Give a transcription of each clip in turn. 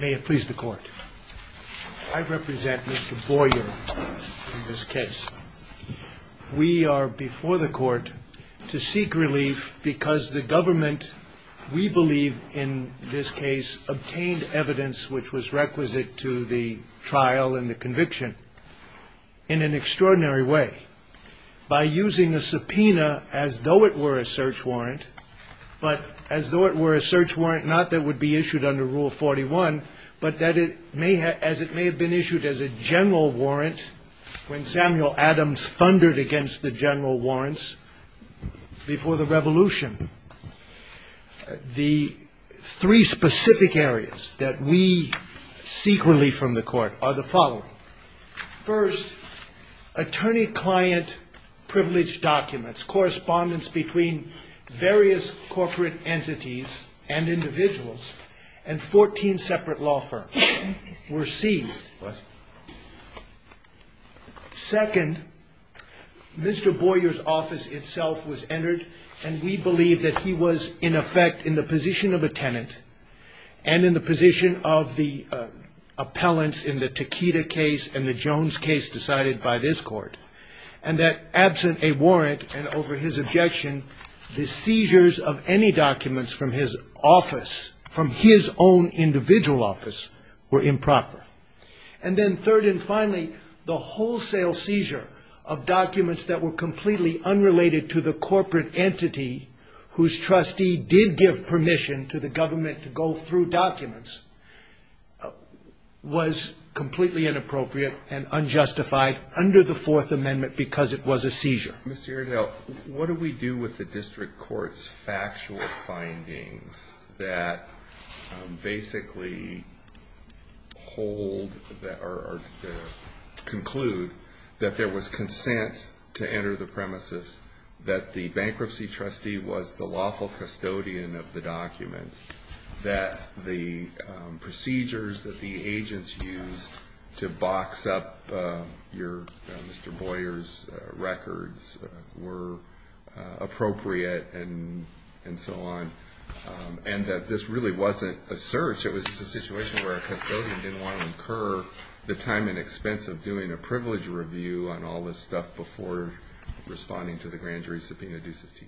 May it please the court. I represent Mr. Boyer in this case. We are before the court to seek relief because the government, we believe in this case, obtained evidence which was requisite to the trial and the conviction in an extraordinary way. By using a subpoena as though it were a search warrant, but as though it were a search warrant not that would be issued under Rule 41, but that it may have, as it may have been issued as a general warrant when Samuel Adams thundered against the general warrants before the revolution. The three specific areas that we seek relief from the court are the following. First, attorney-client privilege documents, correspondence between various corporate entities and individuals and 14 separate law firms were seized. Second, Mr. Boyer's office itself was entered and we believe that he was in effect in the position of a tenant and in the position of the appellants in the Takeda case and the Jones case decided by this court. And that absent a warrant and over his objection, the seizures of any documents from his office, from his own individual office were improper. And then third and finally, the wholesale seizure of documents that were completely unrelated to the corporate entity whose trustee did give permission to the government to go through documents was completely inappropriate and unjustified under the Fourth Amendment. Mr. Aredel, what do we do with the district courts factual findings that basically hold or conclude that there was consent to enter the premises, that the bankruptcy trustee was the lawful custodian of the documents, that the procedures that the agents used to box up your Mr. Boyer's records were appropriate and so on, and that this really wasn't a search. It was just a situation where a custodian didn't want to incur the time and expense of doing a privilege review on all this stuff before responding to the grand jury subpoena due sestima.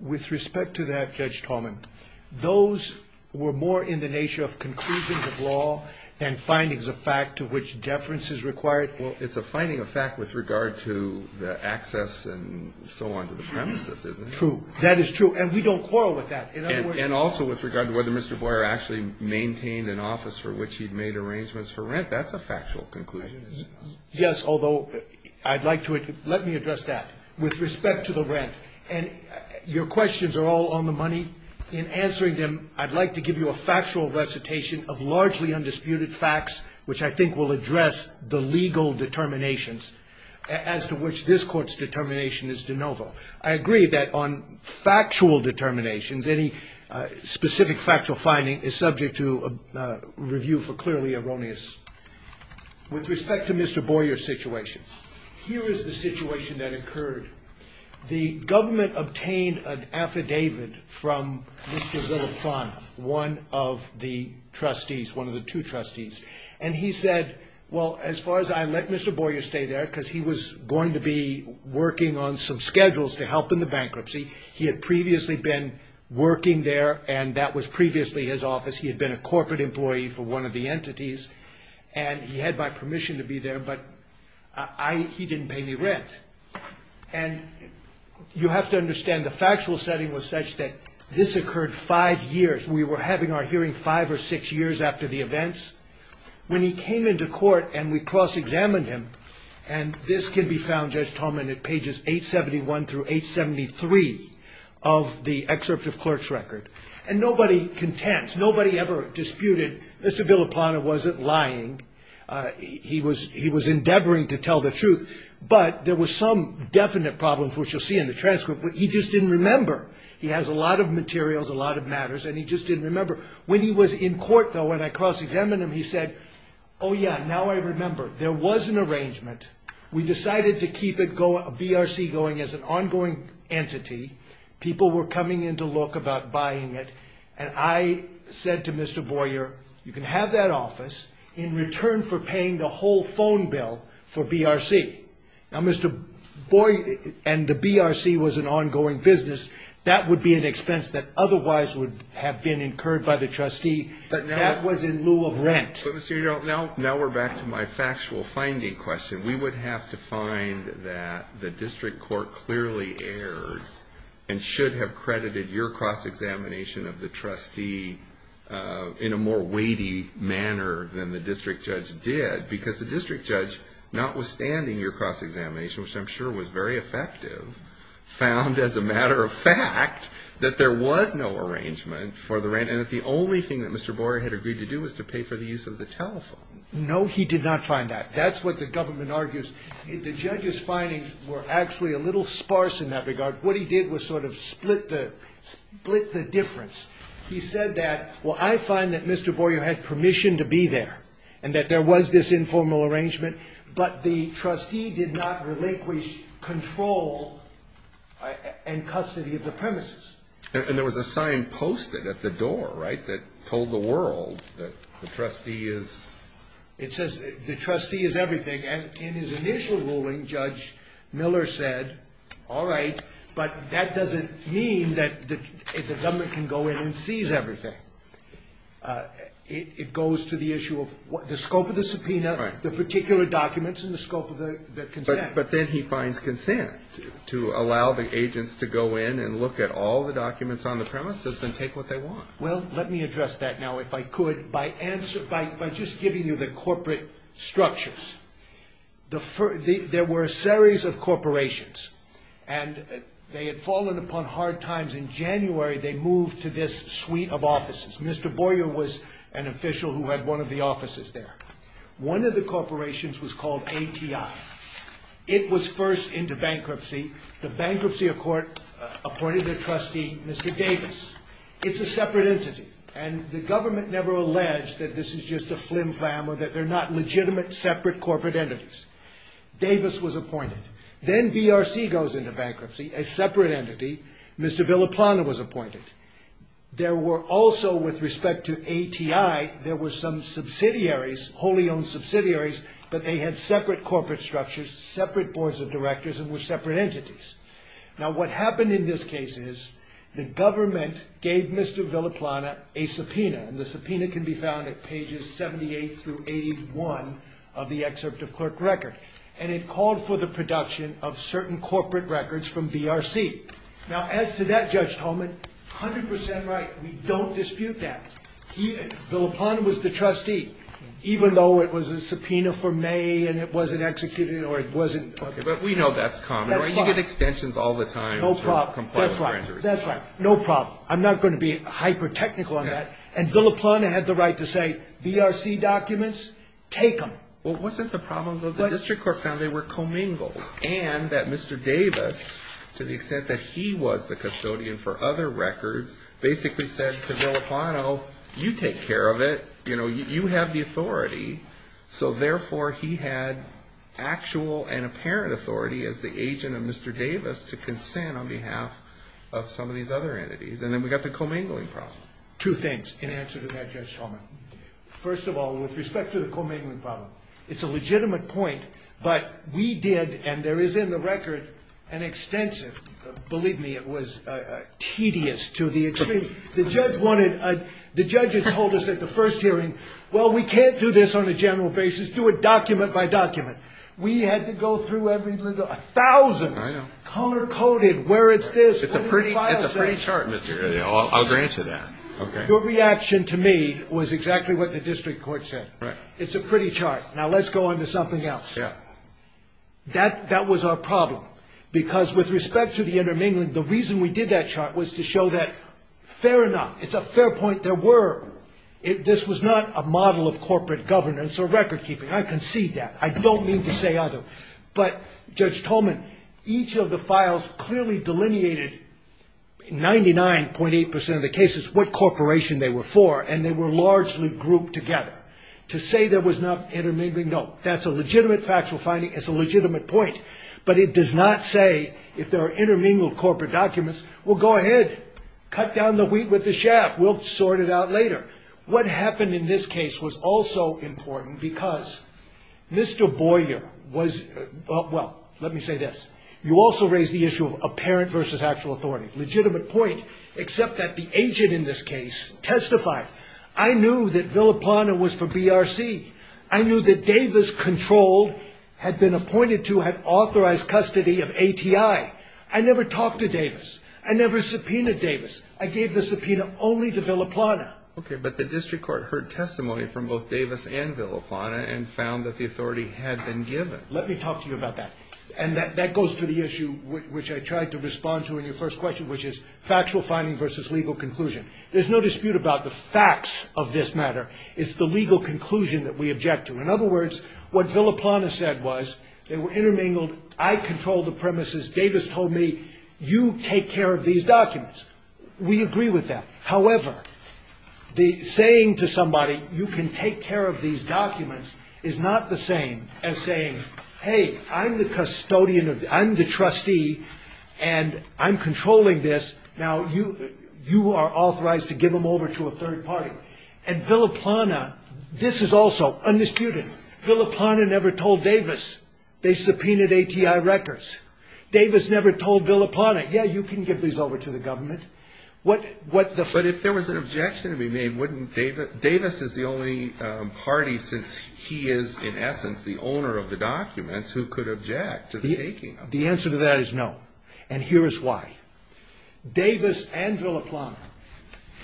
With respect to that, Judge Tallman, those were more in the nature of conclusion of law than findings of fact to which deference is required. Well, it's a finding of fact with regard to the access and so on to the premises, isn't it? True. That is true. And we don't quarrel with that. And also with regard to whether Mr. Boyer actually maintained an office for which he'd made arrangements for rent, that's a factual conclusion, isn't it? Yes, although I'd like to address that. With respect to the rent, and your questions are all on the money, in answering them, I'd like to give you a factual recitation of largely undisputed facts which I think will address the legal determinations as to which this Court's determination is de novo. I agree that on factual determinations, any specific factual finding is subject to review for clearly erroneous. With respect to Mr. Boyer's situation, here is the situation that occurred. The government obtained an affidavit from Mr. Villafran, one of the trustees, one of the two trustees. And he said, well, as far as I let Mr. Boyer stay there, because he was going to be working on some schedules to help in the bankruptcy. He had previously been working there, and that was previously his office. He had been a corporate employee for one of the entities. And he had my permission to be there, but he didn't pay me rent. And you have to understand the factual setting was such that this occurred five years. We were having our hearing five or six years after the events. When he came into court and we cross-examined him, and this can be found, Judge Tolman, at pages 871 through 873 of the excerpt of clerk's record. And nobody contends, nobody ever disputed Mr. Villafran wasn't lying. He was endeavoring to tell the truth. But there were some definite problems, which you'll see in the transcript. He just didn't remember. He has a lot of materials, a lot of matters, and he just didn't remember. When he was in court, though, when I cross-examined him, he said, oh, yeah, now I remember. There was an arrangement. We decided to keep a BRC going as an ongoing entity. People were coming in to look about buying it. And I said to Mr. Boyer, you can have that office in return for paying the whole phone bill for BRC. Now, Mr. Boyer and the BRC was an ongoing business. That would be an expense that otherwise would have been incurred by the trustee. That was in lieu of rent. Now we're back to my factual finding question. We would have to find that the district court clearly erred and should have credited your cross-examination of the trustee in a more weighty manner than the district judge did because the district judge, notwithstanding your cross-examination, which I'm sure was very effective, found, as a matter of fact, that there was no arrangement for the rent and that the only thing that Mr. Boyer had agreed to do was to pay for the use of the telephone. No, he did not find that. That's what the government argues. The judge's findings were actually a little sparse in that regard. What he did was sort of split the difference. He said that, well, I find that Mr. Boyer had permission to be there and that there was this informal arrangement, but the trustee did not relinquish control and custody of the premises. And there was a sign posted at the door, right, that told the world that the trustee is? It says the trustee is everything. And in his initial ruling, Judge Miller said, all right, but that doesn't mean that the government can go in and seize everything. It goes to the issue of the scope of the subpoena, the particular documents and the scope of the consent. But then he finds consent to allow the agents to go in and look at all the documents on the premises and take what they want. Well, let me address that now, if I could, by just giving you the corporate structures. There were a series of corporations and they had fallen upon hard times. In January, they moved to this suite of offices. Mr. Boyer was an official who had one of the offices there. One of the corporations was called ATI. It was first into bankruptcy. The bankruptcy court appointed a trustee, Mr. Davis. It's a separate entity. And the government never alleged that this is just a flim flam or that they're not legitimate separate corporate entities. Davis was appointed. Then BRC goes into bankruptcy, a separate entity. Mr. Villaplana was appointed. There were also, with respect to ATI, there were some subsidiaries, wholly owned subsidiaries, but they had separate corporate structures, separate boards of directors and were separate entities. Now, what happened in this case is the government gave Mr. Villaplana a subpoena. And the subpoena can be found at pages 78 through 81 of the excerpt of clerk record. And it called for the production of certain corporate records from BRC. Now, as to that, Judge Tolman, 100 percent right, we don't dispute that. Villaplana was the trustee, even though it was a subpoena for May and it wasn't executed or it wasn't. But we know that's common. You get extensions all the time. No problem. That's right. No problem. I'm not going to be hyper technical on that. And Villaplana had the right to say, BRC documents, take them. Well, wasn't the problem that the district court found they were commingled and that Mr. Davis, to the extent that he was the custodian for other records, basically said to Villaplana, you take care of it. You know, you have the authority. So, therefore, he had actual and apparent authority as the agent of Mr. Davis to consent on behalf of some of these other entities. And then we got the commingling problem. Two things in answer to that, Judge Tolman. First of all, with respect to the commingling problem, it's a legitimate point, but we did, and there is in the record an extensive, believe me, it was tedious to the extreme. The judge wanted, the judge had told us at the first hearing, well, we can't do this on a general basis. Do it document by document. We had to go through every little, thousands. I know. Color-coded where it's this. It's a pretty, it's a pretty chart, Mr. Ely. I'll grant you that. Okay. Your reaction to me was exactly what the district court said. Right. It's a pretty chart. Now, let's go on to something else. Yeah. That was our problem. Because with respect to the intermingling, the reason we did that chart was to show that, fair enough, it's a fair point. There were, this was not a model of corporate governance or record keeping. I concede that. I don't mean to say other. But, Judge Tolman, each of the files clearly delineated 99.8% of the cases, what corporation they were for. And they were largely grouped together. To say there was not intermingling, no. That's a legitimate factual finding. It's a legitimate point. But it does not say, if there are intermingled corporate documents, well, go ahead. Cut down the wheat with the chaff. We'll sort it out later. What happened in this case was also important because Mr. Boyer was, well, let me say this. You also raised the issue of apparent versus actual authority. Legitimate point. Except that the agent in this case testified. I knew that Villapanda was for BRC. I knew that Davis controlled, had been appointed to, had authorized custody of ATI. I never talked to Davis. I never subpoenaed Davis. I gave the subpoena only to Villapanda. Okay. But the district court heard testimony from both Davis and Villapanda and found that the authority had been given. Let me talk to you about that. And that goes to the issue which I tried to respond to in your first question, which is factual finding versus legal conclusion. There's no dispute about the facts of this matter. It's the legal conclusion that we object to. In other words, what Villapanda said was they were intermingled. I controlled the premises. Davis told me, you take care of these documents. We agree with that. However, the saying to somebody, you can take care of these documents, is not the same as saying, hey, I'm the custodian, I'm the trustee, and I'm controlling this. Now, you are authorized to give them over to a third party. And Villapanda, this is also undisputed. Villapanda never told Davis they subpoenaed ATI records. Davis never told Villapanda, yeah, you can give these over to the government. What the ---- But if there was an objection to be made, wouldn't Davis ---- Davis is the only party, since he is, in essence, the owner of the documents, who could object to the taking of the documents. The answer to that is no. And here is why. Davis and Villapanda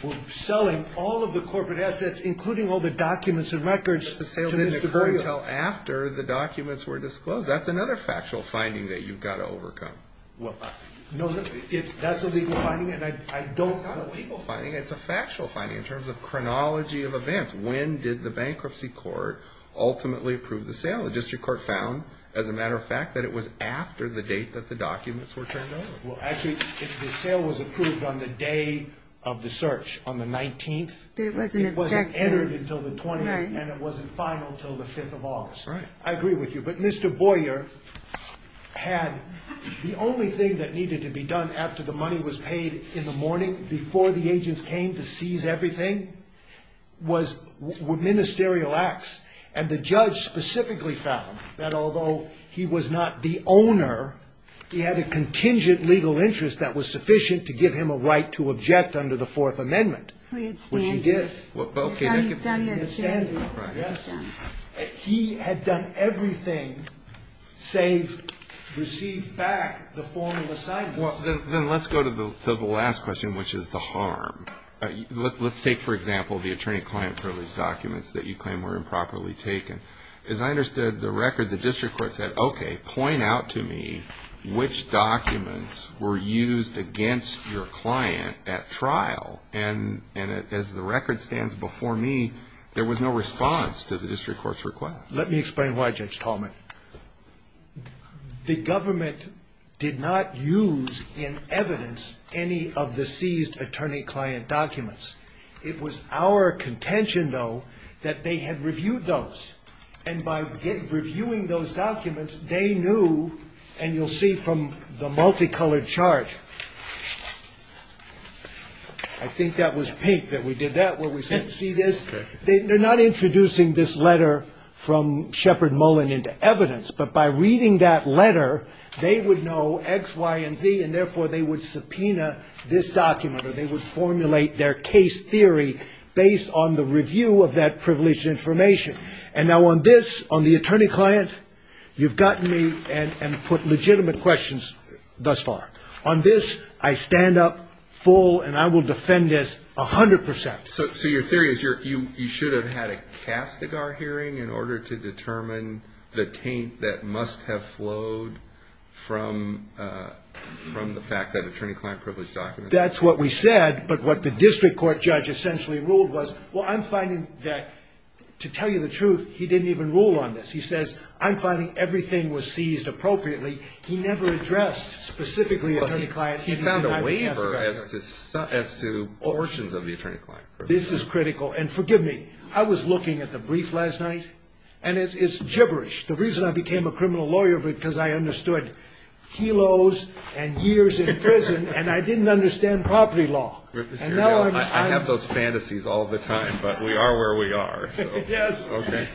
were selling all of the corporate assets, including all the documents and records, to Mr. Berrio. But the sale didn't occur until after the documents were disclosed. That's another factual finding that you've got to overcome. Well, no, that's a legal finding, and I don't ---- It's not a legal finding. It's a factual finding in terms of chronology of events. When did the bankruptcy court ultimately approve the sale? The district court found, as a matter of fact, that it was after the date that the documents were turned over. Well, actually, the sale was approved on the day of the search, on the 19th. It wasn't objected. It wasn't entered until the 20th. Right. And it wasn't final until the 5th of August. Right. I agree with you. But Mr. Boyer had the only thing that needed to be done after the money was paid in the morning, before the agents came to seize everything, was ministerial acts. And the judge specifically found that although he was not the owner, he had a contingent legal interest that was sufficient to give him a right to object under the Fourth Amendment. I understand. Which he did. I understand. Yes. He had done everything save receive back the formal assignments. Then let's go to the last question, which is the harm. Let's take, for example, the attorney-client privilege documents that you claim were improperly taken. As I understood the record, the district court said, okay, point out to me which documents were used against your client at trial. And as the record stands before me, there was no response to the district court's request. Let me explain why, Judge Tallman. The government did not use in evidence any of the seized attorney-client documents. It was our contention, though, that they had reviewed those. And by reviewing those documents, they knew, and you'll see from the multicolored chart, I think that was pink that we did that where we said, see this. They're not introducing this letter from Shepard Mullen into evidence, but by reading that letter, they would know X, Y, and Z, and therefore they would subpoena this document or they would formulate their case theory based on the review of that privileged information. And now on this, on the attorney-client, you've gotten me and put legitimate questions thus far. On this, I stand up full and I will defend this 100 percent. So your theory is you should have had a Castigar hearing in order to determine the taint that must have flowed from the fact that attorney-client privileged documents? That's what we said, but what the district court judge essentially ruled was, well, I'm finding that, to tell you the truth, he didn't even rule on this. He says, I'm finding everything was seized appropriately. He never addressed specifically attorney-client. He found a waiver as to portions of the attorney-client. This is critical. And forgive me, I was looking at the brief last night, and it's gibberish. The reason I became a criminal lawyer because I understood kilos and years in prison and I didn't understand property law. I have those fantasies all the time, but we are where we are. Yes. Okay.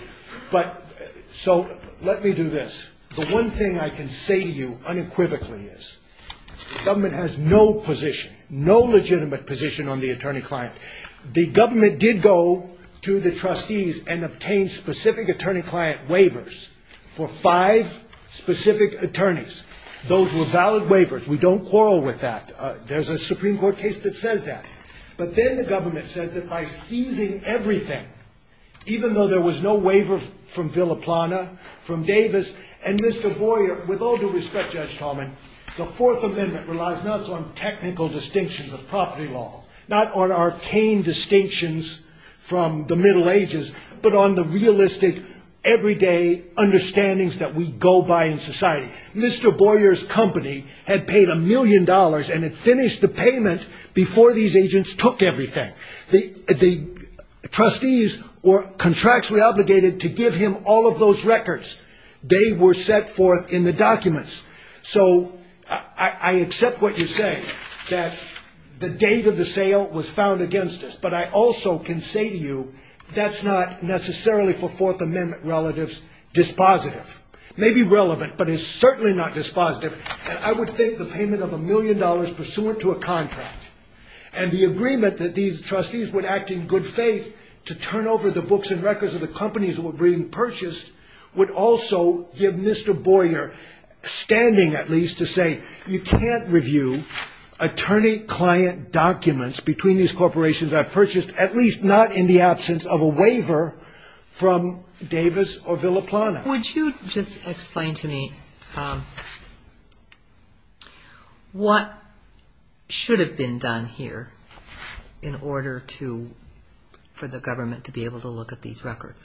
But so let me do this. The one thing I can say to you unequivocally is government has no position, no legitimate position on the attorney-client. The government did go to the trustees and obtain specific attorney-client waivers for five specific attorneys. Those were valid waivers. We don't quarrel with that. There's a Supreme Court case that says that. But then the government says that by seizing everything, even though there was no waiver from Villa Plana, from Davis, and Mr. Boyer, with all due respect, Judge Tallman, the Fourth Amendment relies not so much on technical distinctions of property law, not on arcane distinctions from the Middle Ages, but on the realistic, everyday understandings that we go by in society. Mr. Boyer's company had paid a million dollars and had finished the payment before these agents took everything. The trustees were contractually obligated to give him all of those records. They were set forth in the documents. So I accept what you say, that the date of the sale was found against us, but I also can say to you that's not necessarily for Fourth Amendment relatives dispositive. It may be relevant, but it's certainly not dispositive. And I would think the payment of a million dollars pursuant to a contract and the agreement that these trustees would act in good faith to turn over the books and records of the companies that were being purchased would also give Mr. Boyer standing, at least, to say you can't review attorney-client documents between these corporations that are purchased, at least not in the absence of a waiver from Davis or Villa Plana. Would you just explain to me what should have been done here in order to, for the government to be able to look at these records?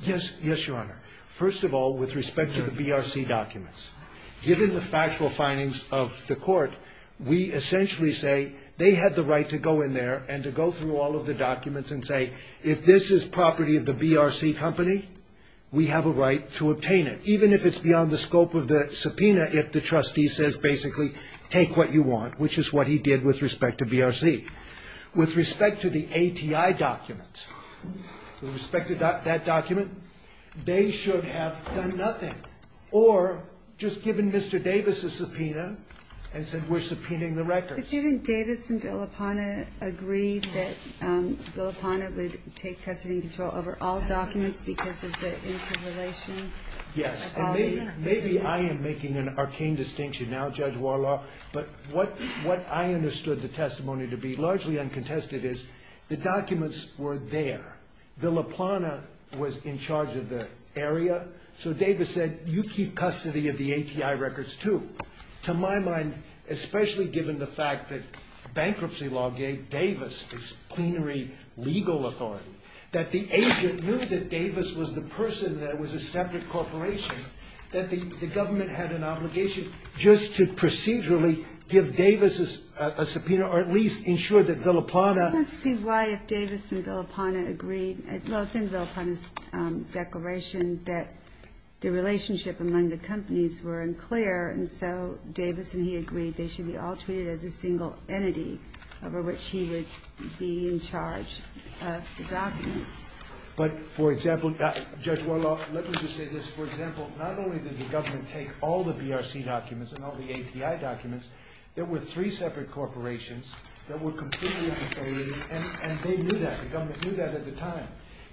Yes, yes, Your Honor. First of all, with respect to the BRC documents, given the factual findings of the court, we essentially say they had the right to go in there and to go through all of the documents and say if this is property of the BRC company, we have a right to obtain it, even if it's beyond the scope of the subpoena if the trustee says basically take what you want, which is what he did with respect to BRC. With respect to the ATI documents, with respect to that document, they should have done nothing or just given Mr. Davis a subpoena and said we're subpoenaing the records. But didn't Davis and Villa Plana agree that Villa Plana would take custody and control over all documents because of the interrelation? Yes. And maybe I am making an arcane distinction now, Judge Warlaw, but what I understood the testimony to be, largely uncontested, is the documents were there. Villa Plana was in charge of the area, so Davis said you keep custody of the ATI records too. To my mind, especially given the fact that bankruptcy law gave Davis plenary legal authority, that the agent knew that Davis was the person that was a separate corporation, that the government had an obligation just to procedurally give Davis a subpoena or at least ensure that Villa Plana Let's see why if Davis and Villa Plana agreed, well it's in Villa Plana's declaration that the relationship among the companies were unclear and so Davis and he agreed they should be all treated as a single entity over which he would be in charge of the documents. But for example, Judge Warlaw, let me just say this, for example, not only did the government take all the BRC documents and all the ATI documents, there were three separate corporations that were completely unfaithful and they knew that, the government knew that at the time.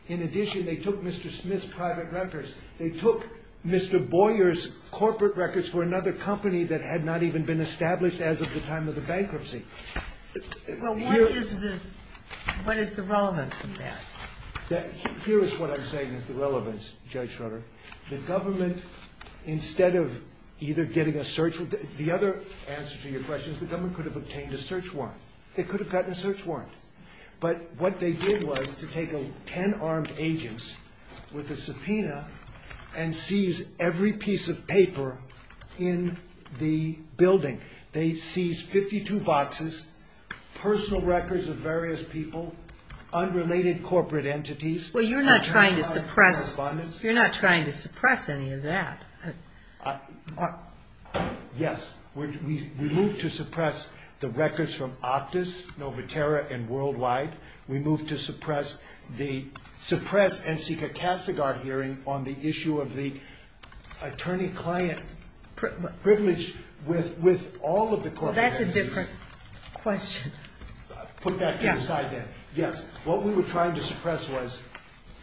In addition, they took Mr. Smith's private records, they took Mr. Boyer's corporate records for another company that had not even been established as of the time of the bankruptcy. Well what is the relevance of that? Here is what I'm saying is the relevance, Judge Schroeder. The government, instead of either getting a search, the other answer to your question is the government could have obtained a search warrant. It could have gotten a search warrant. But what they did was to take 10 armed agents with a subpoena and seize every piece of paper in the building. They seized 52 boxes, personal records of various people, unrelated corporate entities. Well you're not trying to suppress any of that. Yes. We moved to suppress the records from Optus, Novaterra, and Worldwide. We moved to suppress and seek a Cassegard hearing on the issue of the attorney-client privilege with all of the corporate entities. Well that's a different question. Put that to the side then. Yes. What we were trying to suppress was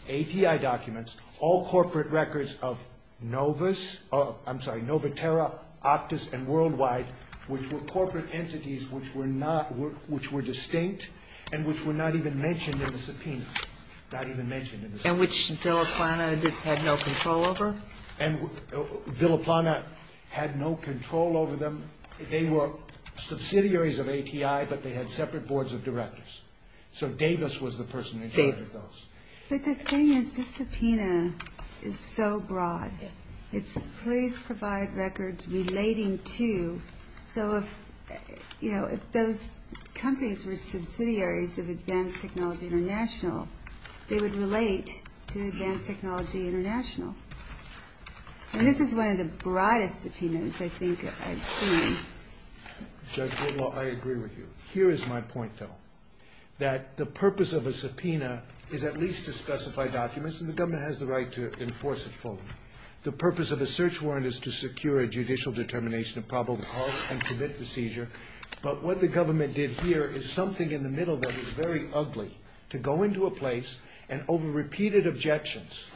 ATI documents, all corporate records of Novus, I'm sorry, Novaterra, Optus, and Worldwide, which were corporate entities which were distinct and which were not even mentioned in the subpoena. Not even mentioned in the subpoena. And which Villaplana had no control over? Villaplana had no control over them. They were subsidiaries of ATI, but they had separate boards of directors. So Davis was the person in charge of those. But the thing is, the subpoena is so broad. It's please provide records relating to, so if those companies were subsidiaries of Advanced Technology International, they would relate to Advanced Technology International. And this is one of the broadest subpoenas I think I've seen. Judge Whitlaw, I agree with you. Here is my point though, that the purpose of a subpoena is at least to specify documents, and the government has the right to enforce it fully. The purpose of a search warrant is to secure a judicial determination of probable cause and commit the seizure. But what the government did here is something in the middle that is very ugly, to go into a place and over repeated objections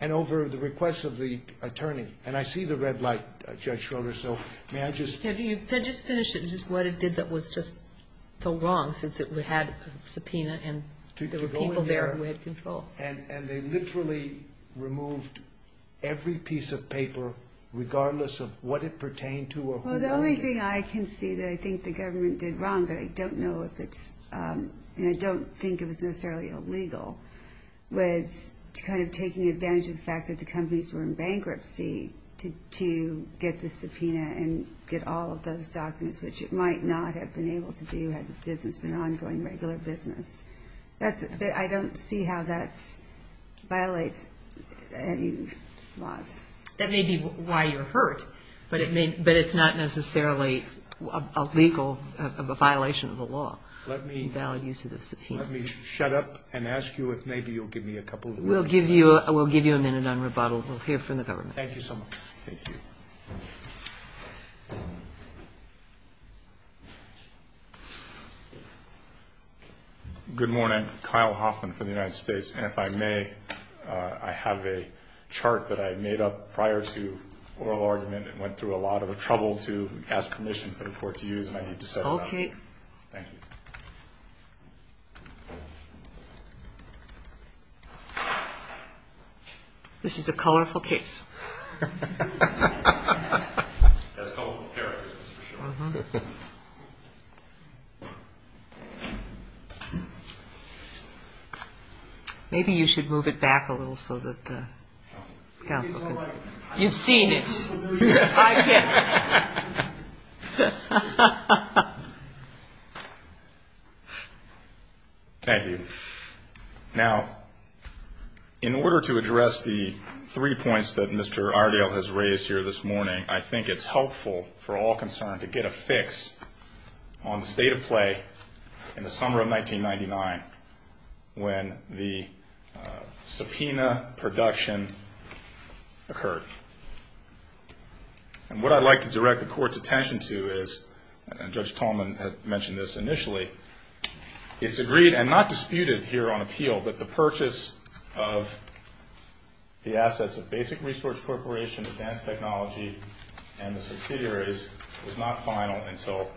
and over the requests of the attorney, and I see the red light, Judge Schroeder, so may I just? Can you just finish what it did that was just so wrong, since it had a subpoena, and there were people there who had control. And they literally removed every piece of paper regardless of what it pertained to or who wrote it. Well, the only thing I can see that I think the government did wrong, but I don't know if it's, and I don't think it was necessarily illegal, was kind of taking advantage of the fact that the companies were in bankruptcy to get the subpoena and get all of those documents, which it might not have been able to do had the business been an ongoing regular business. I don't see how that violates any laws. That may be why you're hurt, but it's not necessarily a legal violation of the law. Let me shut up and ask you if maybe you'll give me a couple of minutes. We'll give you a minute on rebuttal. We'll hear from the government. Thank you so much. Thank you. Good morning. Kyle Hoffman for the United States. And if I may, I have a chart that I made up prior to oral argument and went through a lot of trouble to ask permission for the Court to use, and I need to set it up. Okay. Thank you. This is a colorful case. That's colorful characters, that's for sure. Maybe you should move it back a little so that counsel can see. You've seen it. I can't. Thank you. Now, in order to address the three points that Mr. Ardial has raised here this morning, I think it's helpful for all concerned to get a fix on the state of play in the summer of 1999 when the subpoena production occurred. And what I'd like to direct the Court's attention to is, and Judge Tallman had mentioned this initially, it's agreed and not disputed here on appeal that the purchase of the assets of Basic Resource Corporation, Advanced Technology, and the subsidiaries was not final until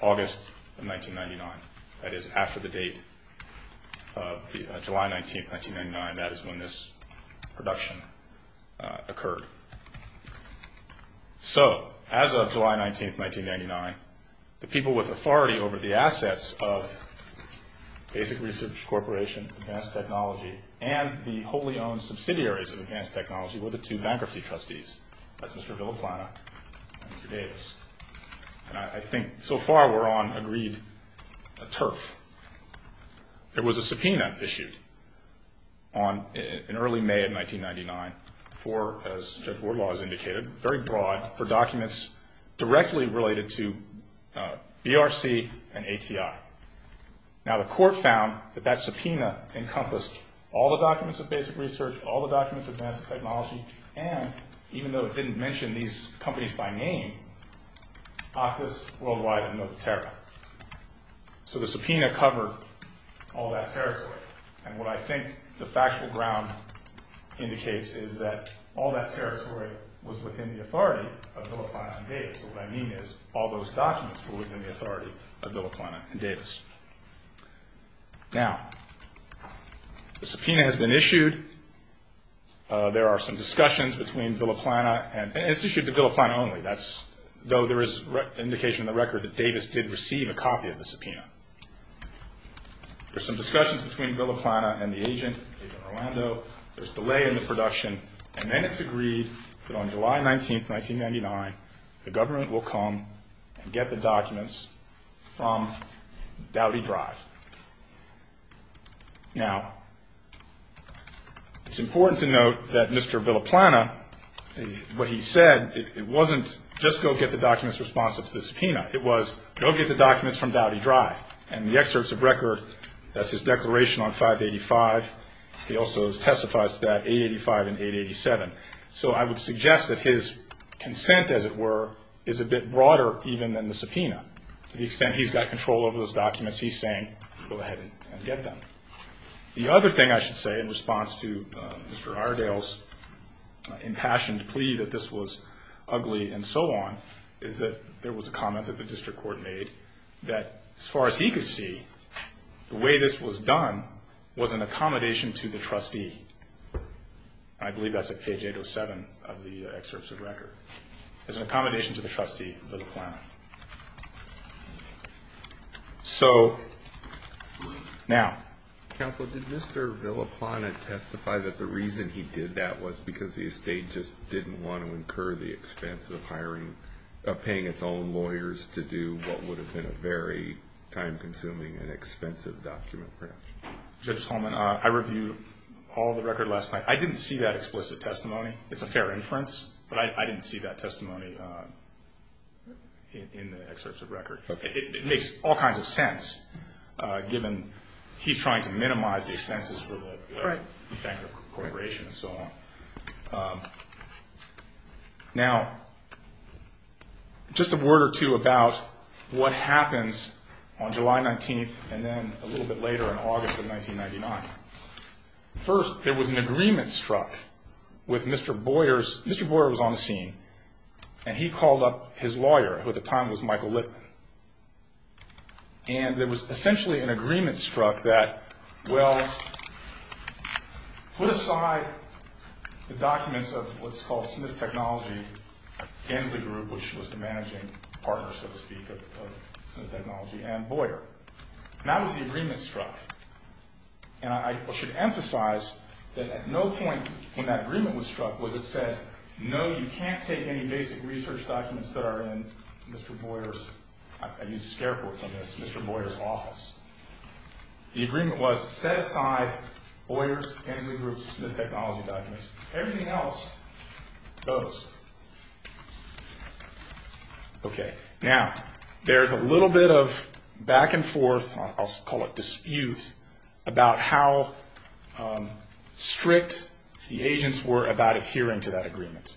August of 1999. That is, after the date of July 19th, 1999. That is when this production occurred. So as of July 19th, 1999, the people with authority over the assets of Basic Research Corporation, Advanced Technology, and the wholly owned subsidiaries of Advanced Technology were the two bankruptcy trustees. That's Mr. Villaplana and Mr. Davis. And I think so far we're on agreed turf. There was a subpoena issued in early May of 1999 for, as Judge Wardlaw has indicated, very broad for documents directly related to BRC and ATI. Now, the Court found that that subpoena encompassed all the documents of Basic Research, all the documents of Advanced Technology, and even though it didn't mention these companies by name, Octus, Worldwide, and Notaterra. So the subpoena covered all that territory. And what I think the factual ground indicates is that all that territory was within the authority of Villaplana and Davis. So what I mean is all those documents were within the authority of Villaplana and Davis. Now, the subpoena has been issued. There are some discussions between Villaplana, and it's issued to Villaplana only, though there is indication in the record that Davis did receive a copy of the subpoena. There's some discussions between Villaplana and the agent, Agent Orlando. There's delay in the production. And then it's agreed that on July 19, 1999, the government will come and get the documents from Dowdy Drive. Now, it's important to note that Mr. Villaplana, what he said, it wasn't just go get the documents responsive to the subpoena. It was go get the documents from Dowdy Drive. And the excerpts of record, that's his declaration on 585. He also testifies to that 885 and 887. So I would suggest that his consent, as it were, is a bit broader even than the subpoena. To the extent he's got control over those documents, he's saying go ahead and get them. The other thing I should say in response to Mr. Iredale's impassioned plea that this was ugly and so on, is that there was a comment that the district court made that as far as he could see, the way this was done was an accommodation to the trustee. I believe that's at page 807 of the excerpts of record. It's an accommodation to the trustee, Villaplana. So, now. Counsel, did Mr. Villaplana testify that the reason he did that was because the estate just didn't want to incur the expense of hiring, of paying its own lawyers to do what would have been a very time-consuming and expensive document production? Judge Holman, I reviewed all of the record last night. I didn't see that explicit testimony. It's a fair inference, but I didn't see that testimony in the excerpts of record. It makes all kinds of sense, given he's trying to minimize the expenses for the banker corporation and so on. Now, just a word or two about what happens on July 19th and then a little bit later in August of 1999. First, there was an agreement struck with Mr. Boyers. Mr. Boyer was on the scene, and he called up his lawyer, who at the time was Michael Litman. And there was essentially an agreement struck that, well, put aside the documents of what's called Smith Technology Gensley Group, which was the managing partner, so to speak, of Smith Technology and Boyer. And that was the agreement struck. And I should emphasize that at no point in that agreement was struck was it said, no, you can't take any basic research documents that are in Mr. Boyer's – I used scare quotes on this – Mr. Boyer's office. The agreement was set aside Boyer's, Gensley Group's, Smith Technology documents. Everything else goes. Okay. Now, there's a little bit of back and forth – I'll call it dispute – about how strict the agents were about adhering to that agreement.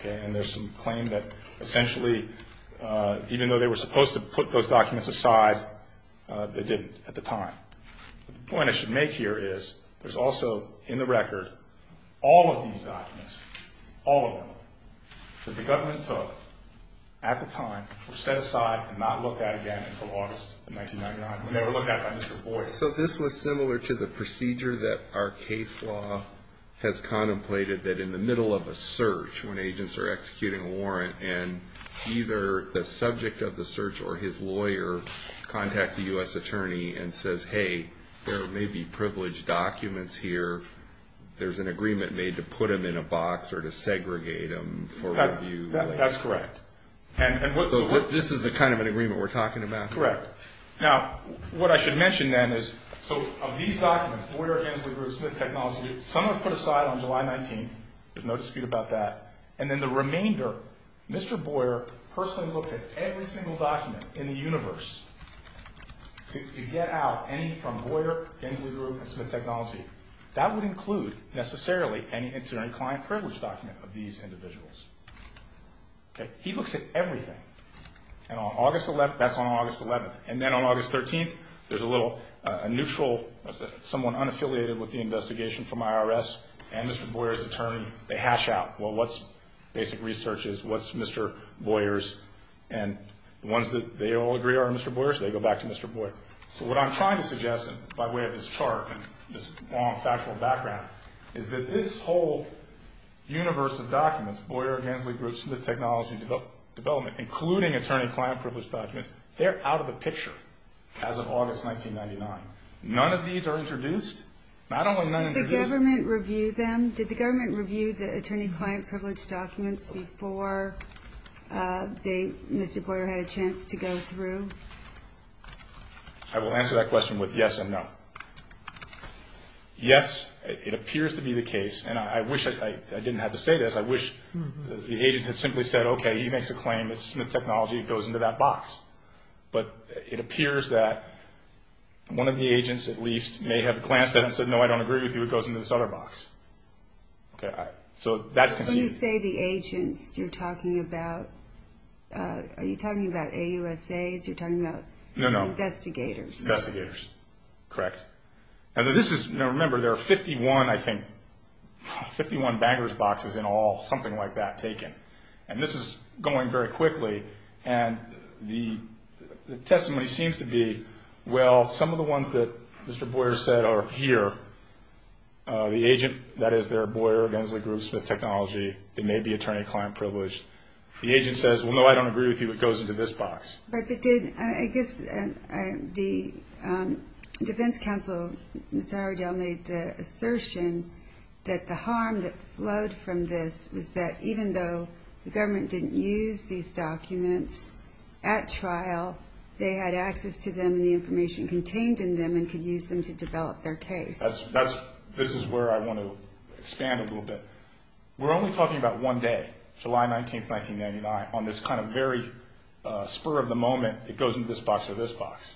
Okay. And there's some claim that essentially, even though they were supposed to put those documents aside, they didn't at the time. The point I should make here is there's also in the record all of these documents, all of them, that the government took at the time were set aside and not looked at again until August of 1999. They were looked at by Mr. Boyer. So this was similar to the procedure that our case law has contemplated that in the middle of a search, when agents are executing a warrant and either the subject of the search or his lawyer contacts a U.S. attorney and says, hey, there may be privileged documents here. There's an agreement made to put them in a box or to segregate them for review. That's correct. So this is the kind of an agreement we're talking about? Correct. Now, what I should mention then is, so of these documents, Boyer, Gensley Group, Smith Technology, some were put aside on July 19th. There's no dispute about that. And then the remainder, Mr. Boyer personally looked at every single document in the universe to get out any from Boyer, Gensley Group, and Smith Technology. That would include, necessarily, any interim client privilege document of these individuals. He looks at everything. And that's on August 11th. And then on August 13th, there's a little neutral, someone unaffiliated with the investigation from IRS and Mr. Boyer's attorney. They hash out, well, what's basic research? What's Mr. Boyer's? And the ones that they all agree are Mr. Boyer's, they go back to Mr. Boyer. So what I'm trying to suggest, by way of this chart and this factual background, is that this whole universe of documents, Boyer, Gensley Group, Smith Technology, including attorney-client privilege documents, they're out of the picture as of August 1999. None of these are introduced. Not only none are introduced. Did the government review them? Did the government review the attorney-client privilege documents before Mr. Boyer had a chance to go through? I will answer that question with yes and no. Yes, it appears to be the case, and I wish I didn't have to say this. I wish the agents had simply said, okay, he makes a claim. It's Smith Technology. It goes into that box. But it appears that one of the agents, at least, may have glanced at it and said, no, I don't agree with you. It goes into this other box. So that's conceived. When you say the agents, are you talking about AUSAs? You're talking about investigators? Investigators, correct. Now, remember, there are 51, I think, 51 bankers' boxes in all, something like that, taken. And this is going very quickly, and the testimony seems to be, well, some of the ones that Mr. Boyer said are here. The agent, that is, there are Boyer, Gensler, Groves, Smith Technology. It may be attorney-client privilege. The agent says, well, no, I don't agree with you. It goes into this box. But it did. I guess the defense counsel, Mr. Howard, made the assertion that the harm that flowed from this was that even though the government didn't use these documents at trial, they had access to them and the information contained in them and could use them to develop their case. This is where I want to expand a little bit. We're only talking about one day, July 19, 1999, on this kind of very spur of the moment, it goes into this box or this box.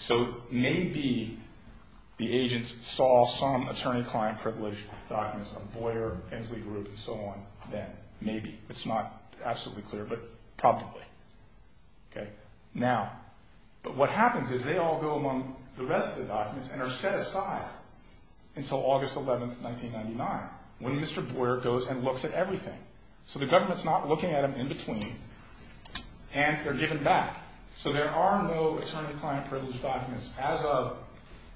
So maybe the agents saw some attorney-client privilege documents on Boyer, Gensler, Groves, and so on then. Maybe. It's not absolutely clear, but probably. But what happens is they all go among the rest of the documents and are set aside until August 11, 1999, when Mr. Boyer goes and looks at everything. So the government's not looking at them in between, and they're given back. So there are no attorney-client privilege documents as of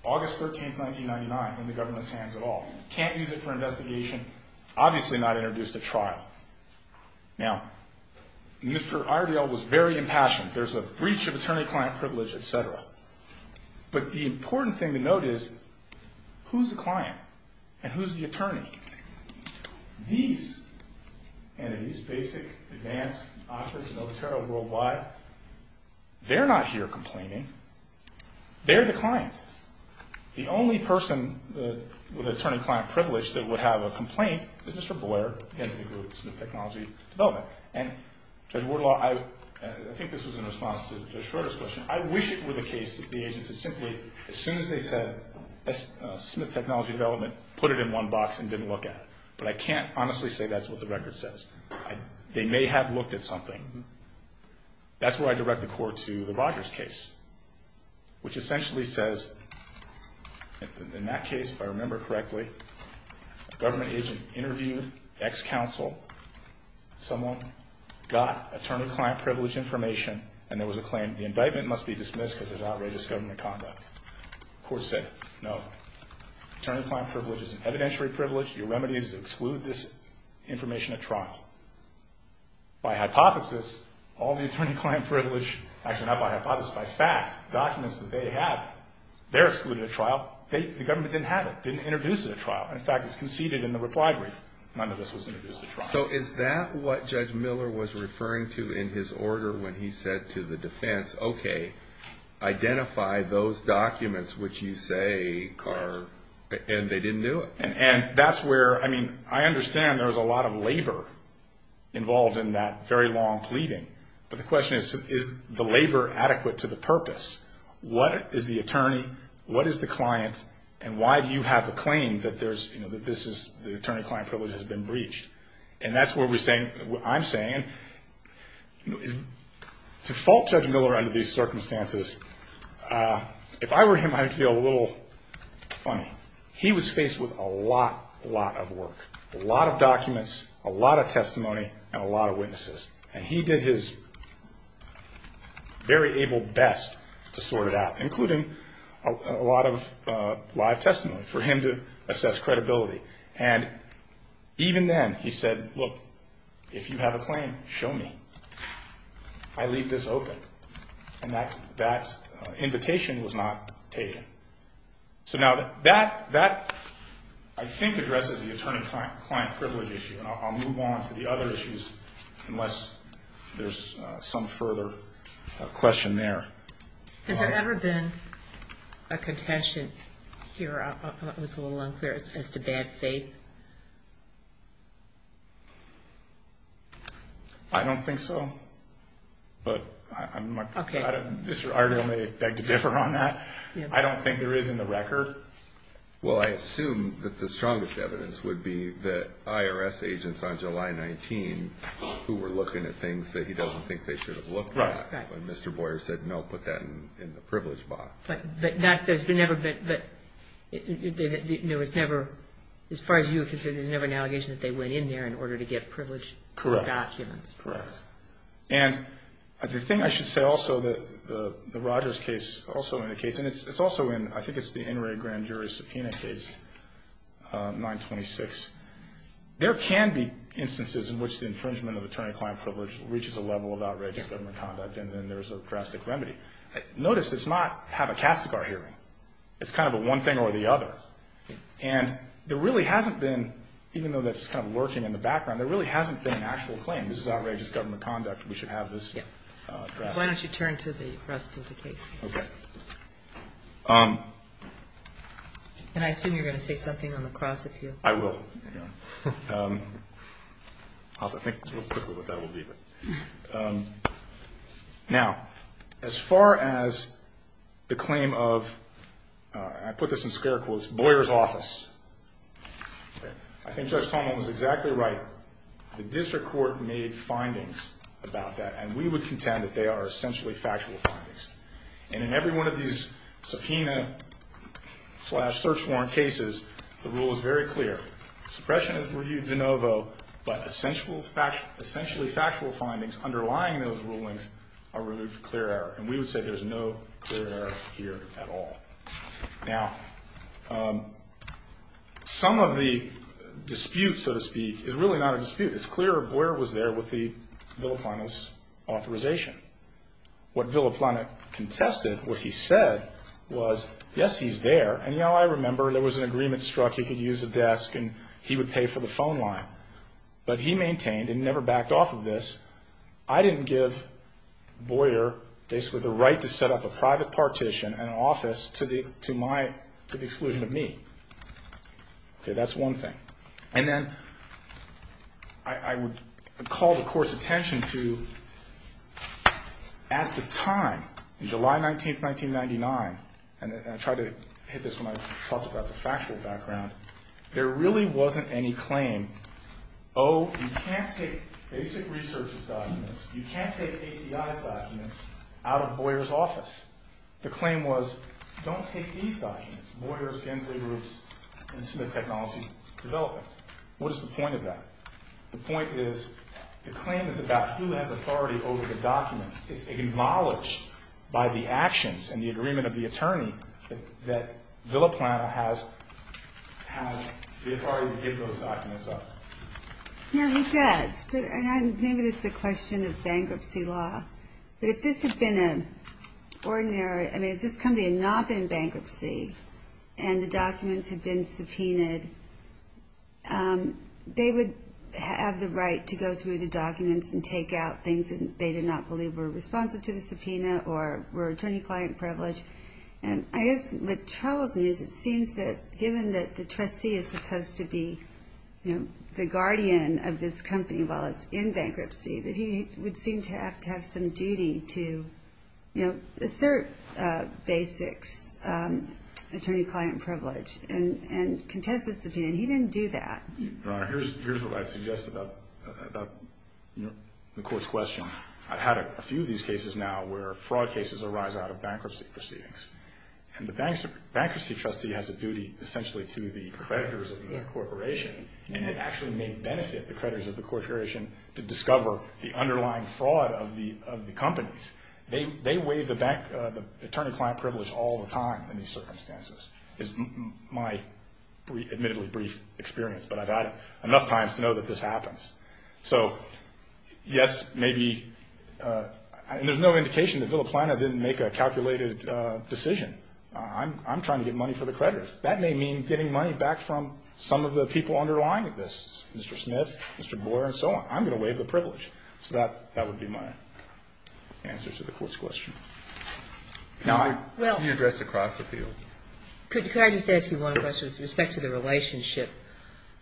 August 13, 1999, in the government's hands at all. Can't use it for investigation. Obviously not introduced at trial. Now, Mr. Irediel was very impassioned. There's a breach of attorney-client privilege, et cetera. But the important thing to note is who's the client and who's the attorney? These entities, Basic, Advanced, Office, Notaro, Worldwide, they're not here complaining. They're the clients. The only person with attorney-client privilege that would have a complaint is Mr. Boyer, Gensler, Groves, and Smith Technology Development. And Judge Wardlaw, I think this was in response to Judge Schroeder's question, I wish it were the case that the agents had simply, as soon as they said, Smith Technology Development, put it in one box and didn't look at it. But I can't honestly say that's what the record says. They may have looked at something. That's where I direct the court to the Rogers case, which essentially says, in that case, if I remember correctly, a government agent interviewed ex-counsel, someone got attorney-client privilege information, and there was a claim the indictment must be dismissed because of outrageous government conduct. The court said, no, attorney-client privilege is an evidentiary privilege. Your remedy is to exclude this information at trial. By hypothesis, all the attorney-client privilege, actually not by hypothesis, by fact, documents that they have, they're excluded at trial. The government didn't have it, didn't introduce it at trial. In fact, it's conceded in the reply brief. None of this was introduced at trial. So is that what Judge Miller was referring to in his order when he said to the defense, okay, identify those documents which you say are, and they didn't do it? And that's where, I mean, I understand there was a lot of labor involved in that very long pleading. But the question is, is the labor adequate to the purpose? What is the attorney, what is the client, and why do you have the claim that there's, you know, that this is, the attorney-client privilege has been breached? And that's what we're saying, what I'm saying. To fault Judge Miller under these circumstances, if I were him, I'd feel a little funny. He was faced with a lot, lot of work, a lot of documents, a lot of testimony, and a lot of witnesses. And he did his very able best to sort it out, including a lot of live testimony for him to assess credibility. And even then he said, look, if you have a claim, show me. I leave this open. And that invitation was not taken. So now that, I think, addresses the attorney-client privilege issue. And I'll move on to the other issues, unless there's some further question there. Has there ever been a contention here? I thought it was a little unclear, as to bad faith. I don't think so. But I might, I already only beg to differ on that. I don't think there is in the record. Well, I assume that the strongest evidence would be that IRS agents on July 19 who were looking at things that he doesn't think they should have looked at. Right. When Mr. Boyer said, no, put that in the privilege box. But that, there's never been, there was never, as far as you were concerned, there was never an allegation that they went in there in order to get privileged documents. Correct. Correct. And the thing I should say also, the Rogers case also indicates, and it's also in, I think it's the NRA grand jury subpoena case, 926. There can be instances in which the infringement of attorney-client privilege reaches a level of outrageous government conduct, and then there's a drastic remedy. Notice it's not, have a Castigar hearing. It's kind of a one thing or the other. And there really hasn't been, even though that's kind of lurking in the background, there really hasn't been an actual claim. This is outrageous government conduct. We should have this drastic. Why don't you turn to the rest of the case? Okay. And I assume you're going to say something on the cross if you. I will. I'll have to think real quickly what that will be. Now, as far as the claim of, I put this in scare quotes, Boyer's office. I think Judge Tomlin was exactly right. The district court made findings about that, and we would contend that they are essentially factual findings. And in every one of these subpoena slash search warrant cases, the rule is very clear. Suppression is reviewed de novo, but essentially factual findings underlying those rulings are removed for clear error. And we would say there's no clear error here at all. Now, some of the dispute, so to speak, is really not a dispute. It's clear Boyer was there with the Villaplana's authorization. What Villaplana contested, what he said, was, yes, he's there. And, you know, I remember there was an agreement struck. He could use a desk, and he would pay for the phone line. But he maintained, and never backed off of this, I didn't give Boyer basically the right to set up a private partition and an office to the exclusion of me. Okay, that's one thing. And then I would call the court's attention to, at the time, July 19, 1999, and I tried to hit this when I talked about the factual background, there really wasn't any claim, oh, you can't take basic research's documents, you can't take ACI's documents out of Boyer's office. The claim was, don't take these documents, Boyer's, Gensley's, and Smith Technology's development. What is the point of that? The point is, the claim is about who has authority over the documents. It's acknowledged by the actions and the agreement of the attorney that Villaplana has the authority to give those documents up. Yeah, he does. And maybe this is a question of bankruptcy law. But if this had been an ordinary, I mean, if this company had not been in bankruptcy, and the documents had been subpoenaed, they would have the right to go through the documents and take out things that they did not believe were responsive to the subpoena or were attorney-client privilege. I guess what troubles me is it seems that given that the trustee is supposed to be the guardian of this company while it's in bankruptcy, that he would seem to have to have some duty to, you know, assert basics, attorney-client privilege, and contest the subpoena. He didn't do that. Your Honor, here's what I'd suggest about the Court's question. I've had a few of these cases now where fraud cases arise out of bankruptcy proceedings. And the bankruptcy trustee has a duty essentially to the creditors of the corporation, and it actually may benefit the creditors of the corporation to discover the underlying fraud of the companies. They waive the attorney-client privilege all the time in these circumstances is my admittedly brief experience, but I've had enough times to know that this happens. So, yes, maybe, and there's no indication that Villa Plana didn't make a calculated decision. I'm trying to get money for the creditors. That may mean getting money back from some of the people underlying this, Mr. Smith, Mr. Boyer, and so on. I'm going to waive the privilege. So that would be my answer to the Court's question. Can you address across the field? Could I just ask you one question with respect to the relationship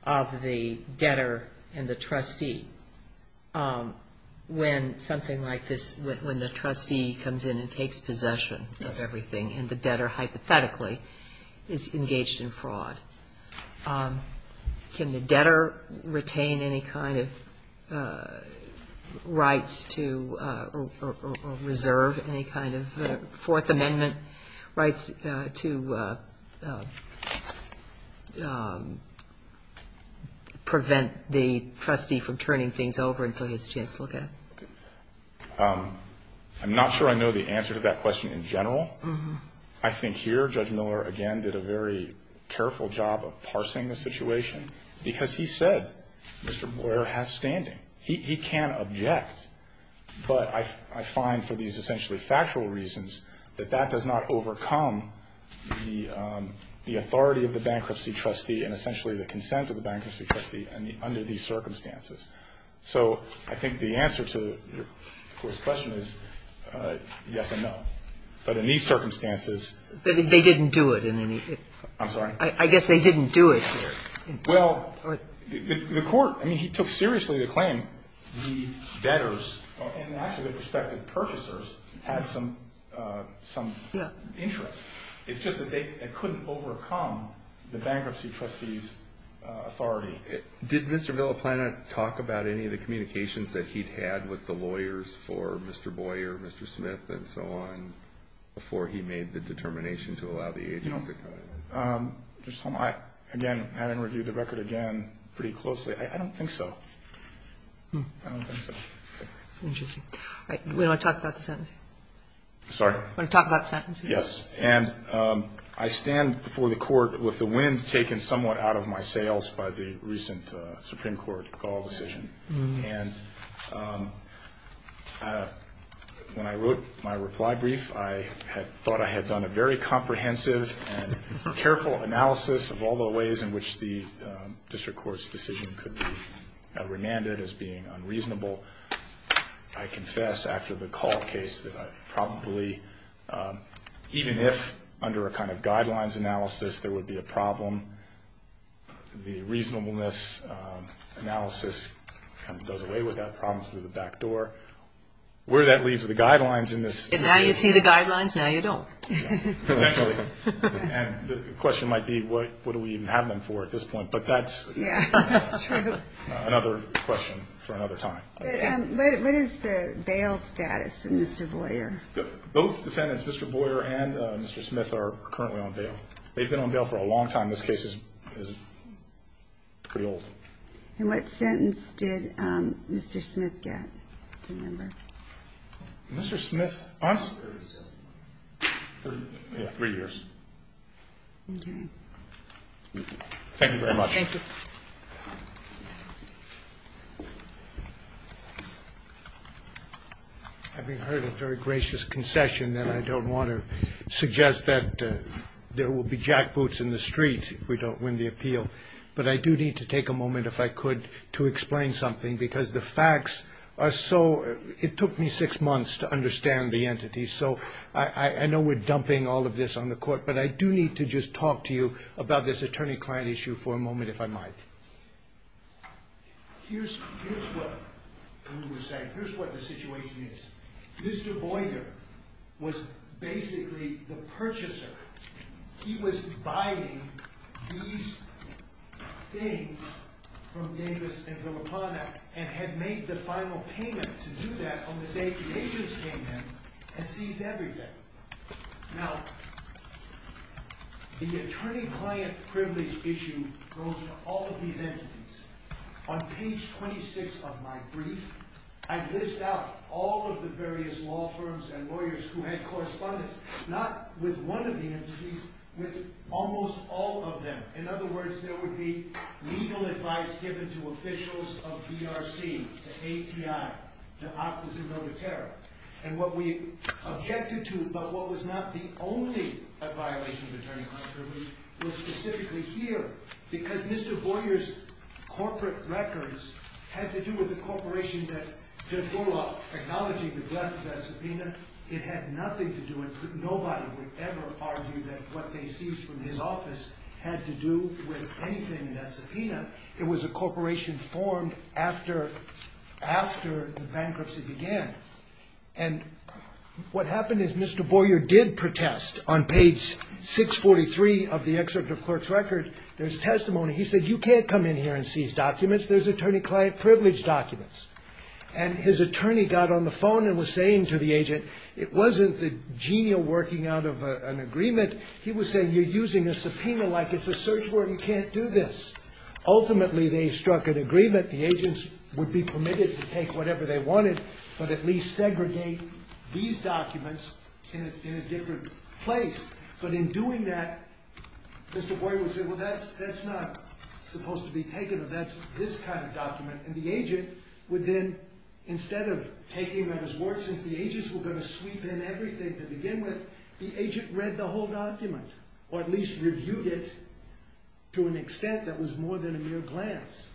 of the debtor and the trustee? When something like this, when the trustee comes in and takes possession of everything and the debtor hypothetically is engaged in fraud, can the debtor retain any kind of rights to or reserve any kind of Fourth Amendment rights to prevent the trustee from turning things over until he has a chance to look at it? I'm not sure I know the answer to that question in general. I think here Judge Miller, again, did a very careful job of parsing the situation because he said Mr. Boyer has standing. He can object, but I find for these essentially factual reasons that that does not overcome the authority of the bankruptcy trustee and essentially the consent of the bankruptcy trustee under these circumstances. So I think the answer to the Court's question is yes and no. But in these circumstances they didn't do it in any way. I'm sorry? I guess they didn't do it here. Well, the Court, I mean, he took seriously the claim the debtors and actually the prospective purchasers had some interest. It's just that they couldn't overcome the bankruptcy trustee's authority. Did Mr. Villaplana talk about any of the communications that he'd had with the lawyers for Mr. Boyer, Mr. Smith, and so on before he made the determination to allow the agency? Again, having reviewed the record again pretty closely, I don't think so. I don't think so. Interesting. Do you want to talk about the sentence? Sorry? Do you want to talk about the sentence? Yes. And I stand before the Court with the wind taken somewhat out of my sails by the recent Supreme Court call decision. And when I wrote my reply brief, I had thought I had done a very comprehensive and careful analysis of all the ways in which the district court's decision could be remanded as being unreasonable. I confess after the call case that I probably, even if under a kind of guidelines analysis there would be a problem, the reasonableness analysis kind of does away with that problem through the back door. Where that leaves the guidelines in this situation. And now you see the guidelines, now you don't. Essentially. And the question might be, what do we even have them for at this point? But that's another question for another time. What is the bail status in Mr. Boyer? Both defendants, Mr. Boyer and Mr. Smith, are currently on bail. They've been on bail for a long time. This case is pretty old. And what sentence did Mr. Smith get? Mr. Smith? Three years. Okay. Thank you very much. Thank you. Having heard a very gracious concession, then I don't want to suggest that there will be jackboots in the street if we don't win the appeal. But I do need to take a moment, if I could, to explain something. Because the facts are so, it took me six months to understand the entities. So I know we're dumping all of this on the court. But I do need to just talk to you about this attorney-client issue for a moment, if I might. Here's what we were saying. Here's what the situation is. Mr. Boyer was basically the purchaser. He was buying these things from Davis and Villapana and had made the final payment to do that on the day the agents came in and seized everything. Now, the attorney-client privilege issue goes to all of these entities. On page 26 of my brief, I list out all of the various law firms and lawyers who had correspondence, not with one of the entities, with almost all of them. In other words, there would be legal advice given to officials of DRC, the ATI, the opposite of the terror. And what we objected to, but what was not the only violation of attorney-client privilege, was specifically here. Because Mr. Boyer's corporate records had to do with a corporation that did not acknowledge the death of that subpoena. It had nothing to do with, nobody would ever argue that what they seized from his office had to do with anything in that subpoena. It was a corporation formed after the bankruptcy began. And what happened is Mr. Boyer did protest on page 643 of the excerpt of the clerk's record. There's testimony. He said, you can't come in here and seize documents. There's attorney-client privilege documents. And his attorney got on the phone and was saying to the agent, it wasn't the genial working out of an agreement. He was saying, you're using a subpoena like it's a search word. You can't do this. Ultimately, they struck an agreement. The agents would be permitted to take whatever they wanted, but at least segregate these documents in a different place. But in doing that, Mr. Boyer would say, well, that's not supposed to be taken. That's this kind of document. And the agent would then, instead of taking that as work, since the agents were going to sweep in everything to begin with, the agent read the whole document. Or at least reviewed it to an extent that was more than a mere glance.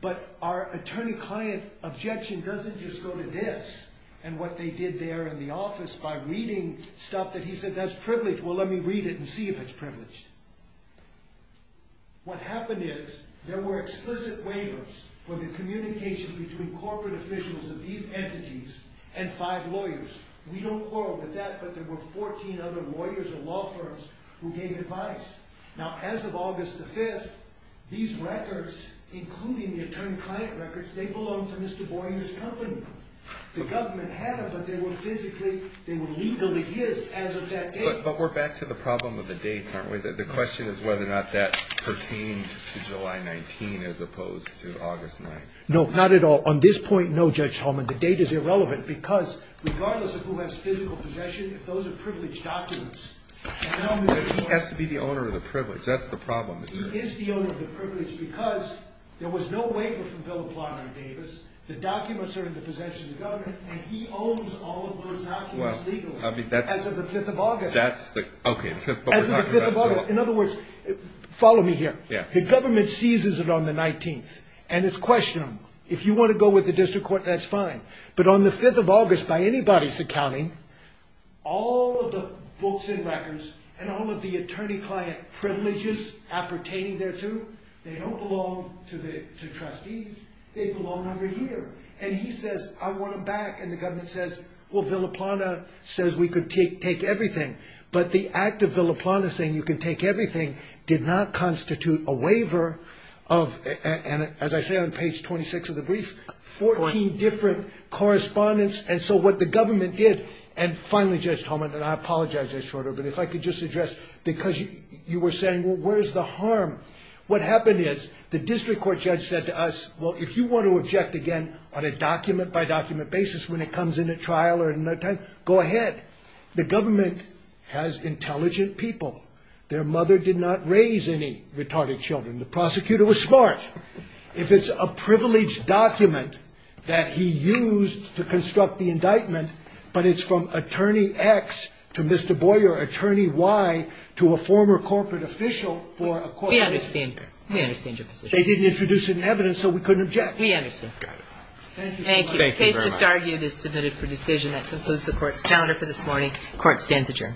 But our attorney-client objection doesn't just go to this and what they did there in the office by reading stuff that he said that's privileged. Well, let me read it and see if it's privileged. What happened is there were explicit waivers for the communication between corporate officials of these entities and five lawyers. We don't quarrel with that, but there were 14 other lawyers or law firms who gave advice. Now, as of August the 5th, these records, including the attorney-client records, they belonged to Mr. Boyer's company. The government had them, but they were physically, they were legally his as of that date. But we're back to the problem of the dates, aren't we? The question is whether or not that pertained to July 19 as opposed to August 9. No, not at all. On this point, no, Judge Holman. The date is irrelevant because regardless of who has physical possession, those are privileged documents. But he has to be the owner of the privilege. That's the problem. He is the owner of the privilege because there was no waiver from Philip Lawman Davis. The documents are in the possession of the government, and he owns all of those documents legally. As of the 5th of August. As of the 5th of August. In other words, follow me here. The government seizes it on the 19th, and it's questionable. If you want to go with the district court, that's fine. But on the 5th of August, by anybody's accounting, all of the books and records and all of the attorney-client privileges appertaining thereto, they don't belong to trustees. They belong over here. And he says, I want them back. And the government says, well, Villa Plana says we can take everything. But the act of Villa Plana saying you can take everything did not constitute a waiver of, as I say on page 26 of the brief, 14 different correspondence. And so what the government did, and finally, Judge Holman, and I apologize, Judge Schroeder, but if I could just address, because you were saying, well, where is the harm? What happened is the district court judge said to us, well, if you want to object again on a document-by-document basis when it comes in at trial or another time, go ahead. The government has intelligent people. Their mother did not raise any retarded children. The prosecutor was smart. If it's a privileged document that he used to construct the indictment, but it's from attorney X to Mr. Boyer, attorney Y to a former corporate official for a court decision. We understand that. We understand your position. They didn't introduce it in evidence, so we couldn't object. We understand. Thank you. Thank you very much. The case just argued is submitted for decision. That concludes the Court's calendar for this morning. Court stands adjourned.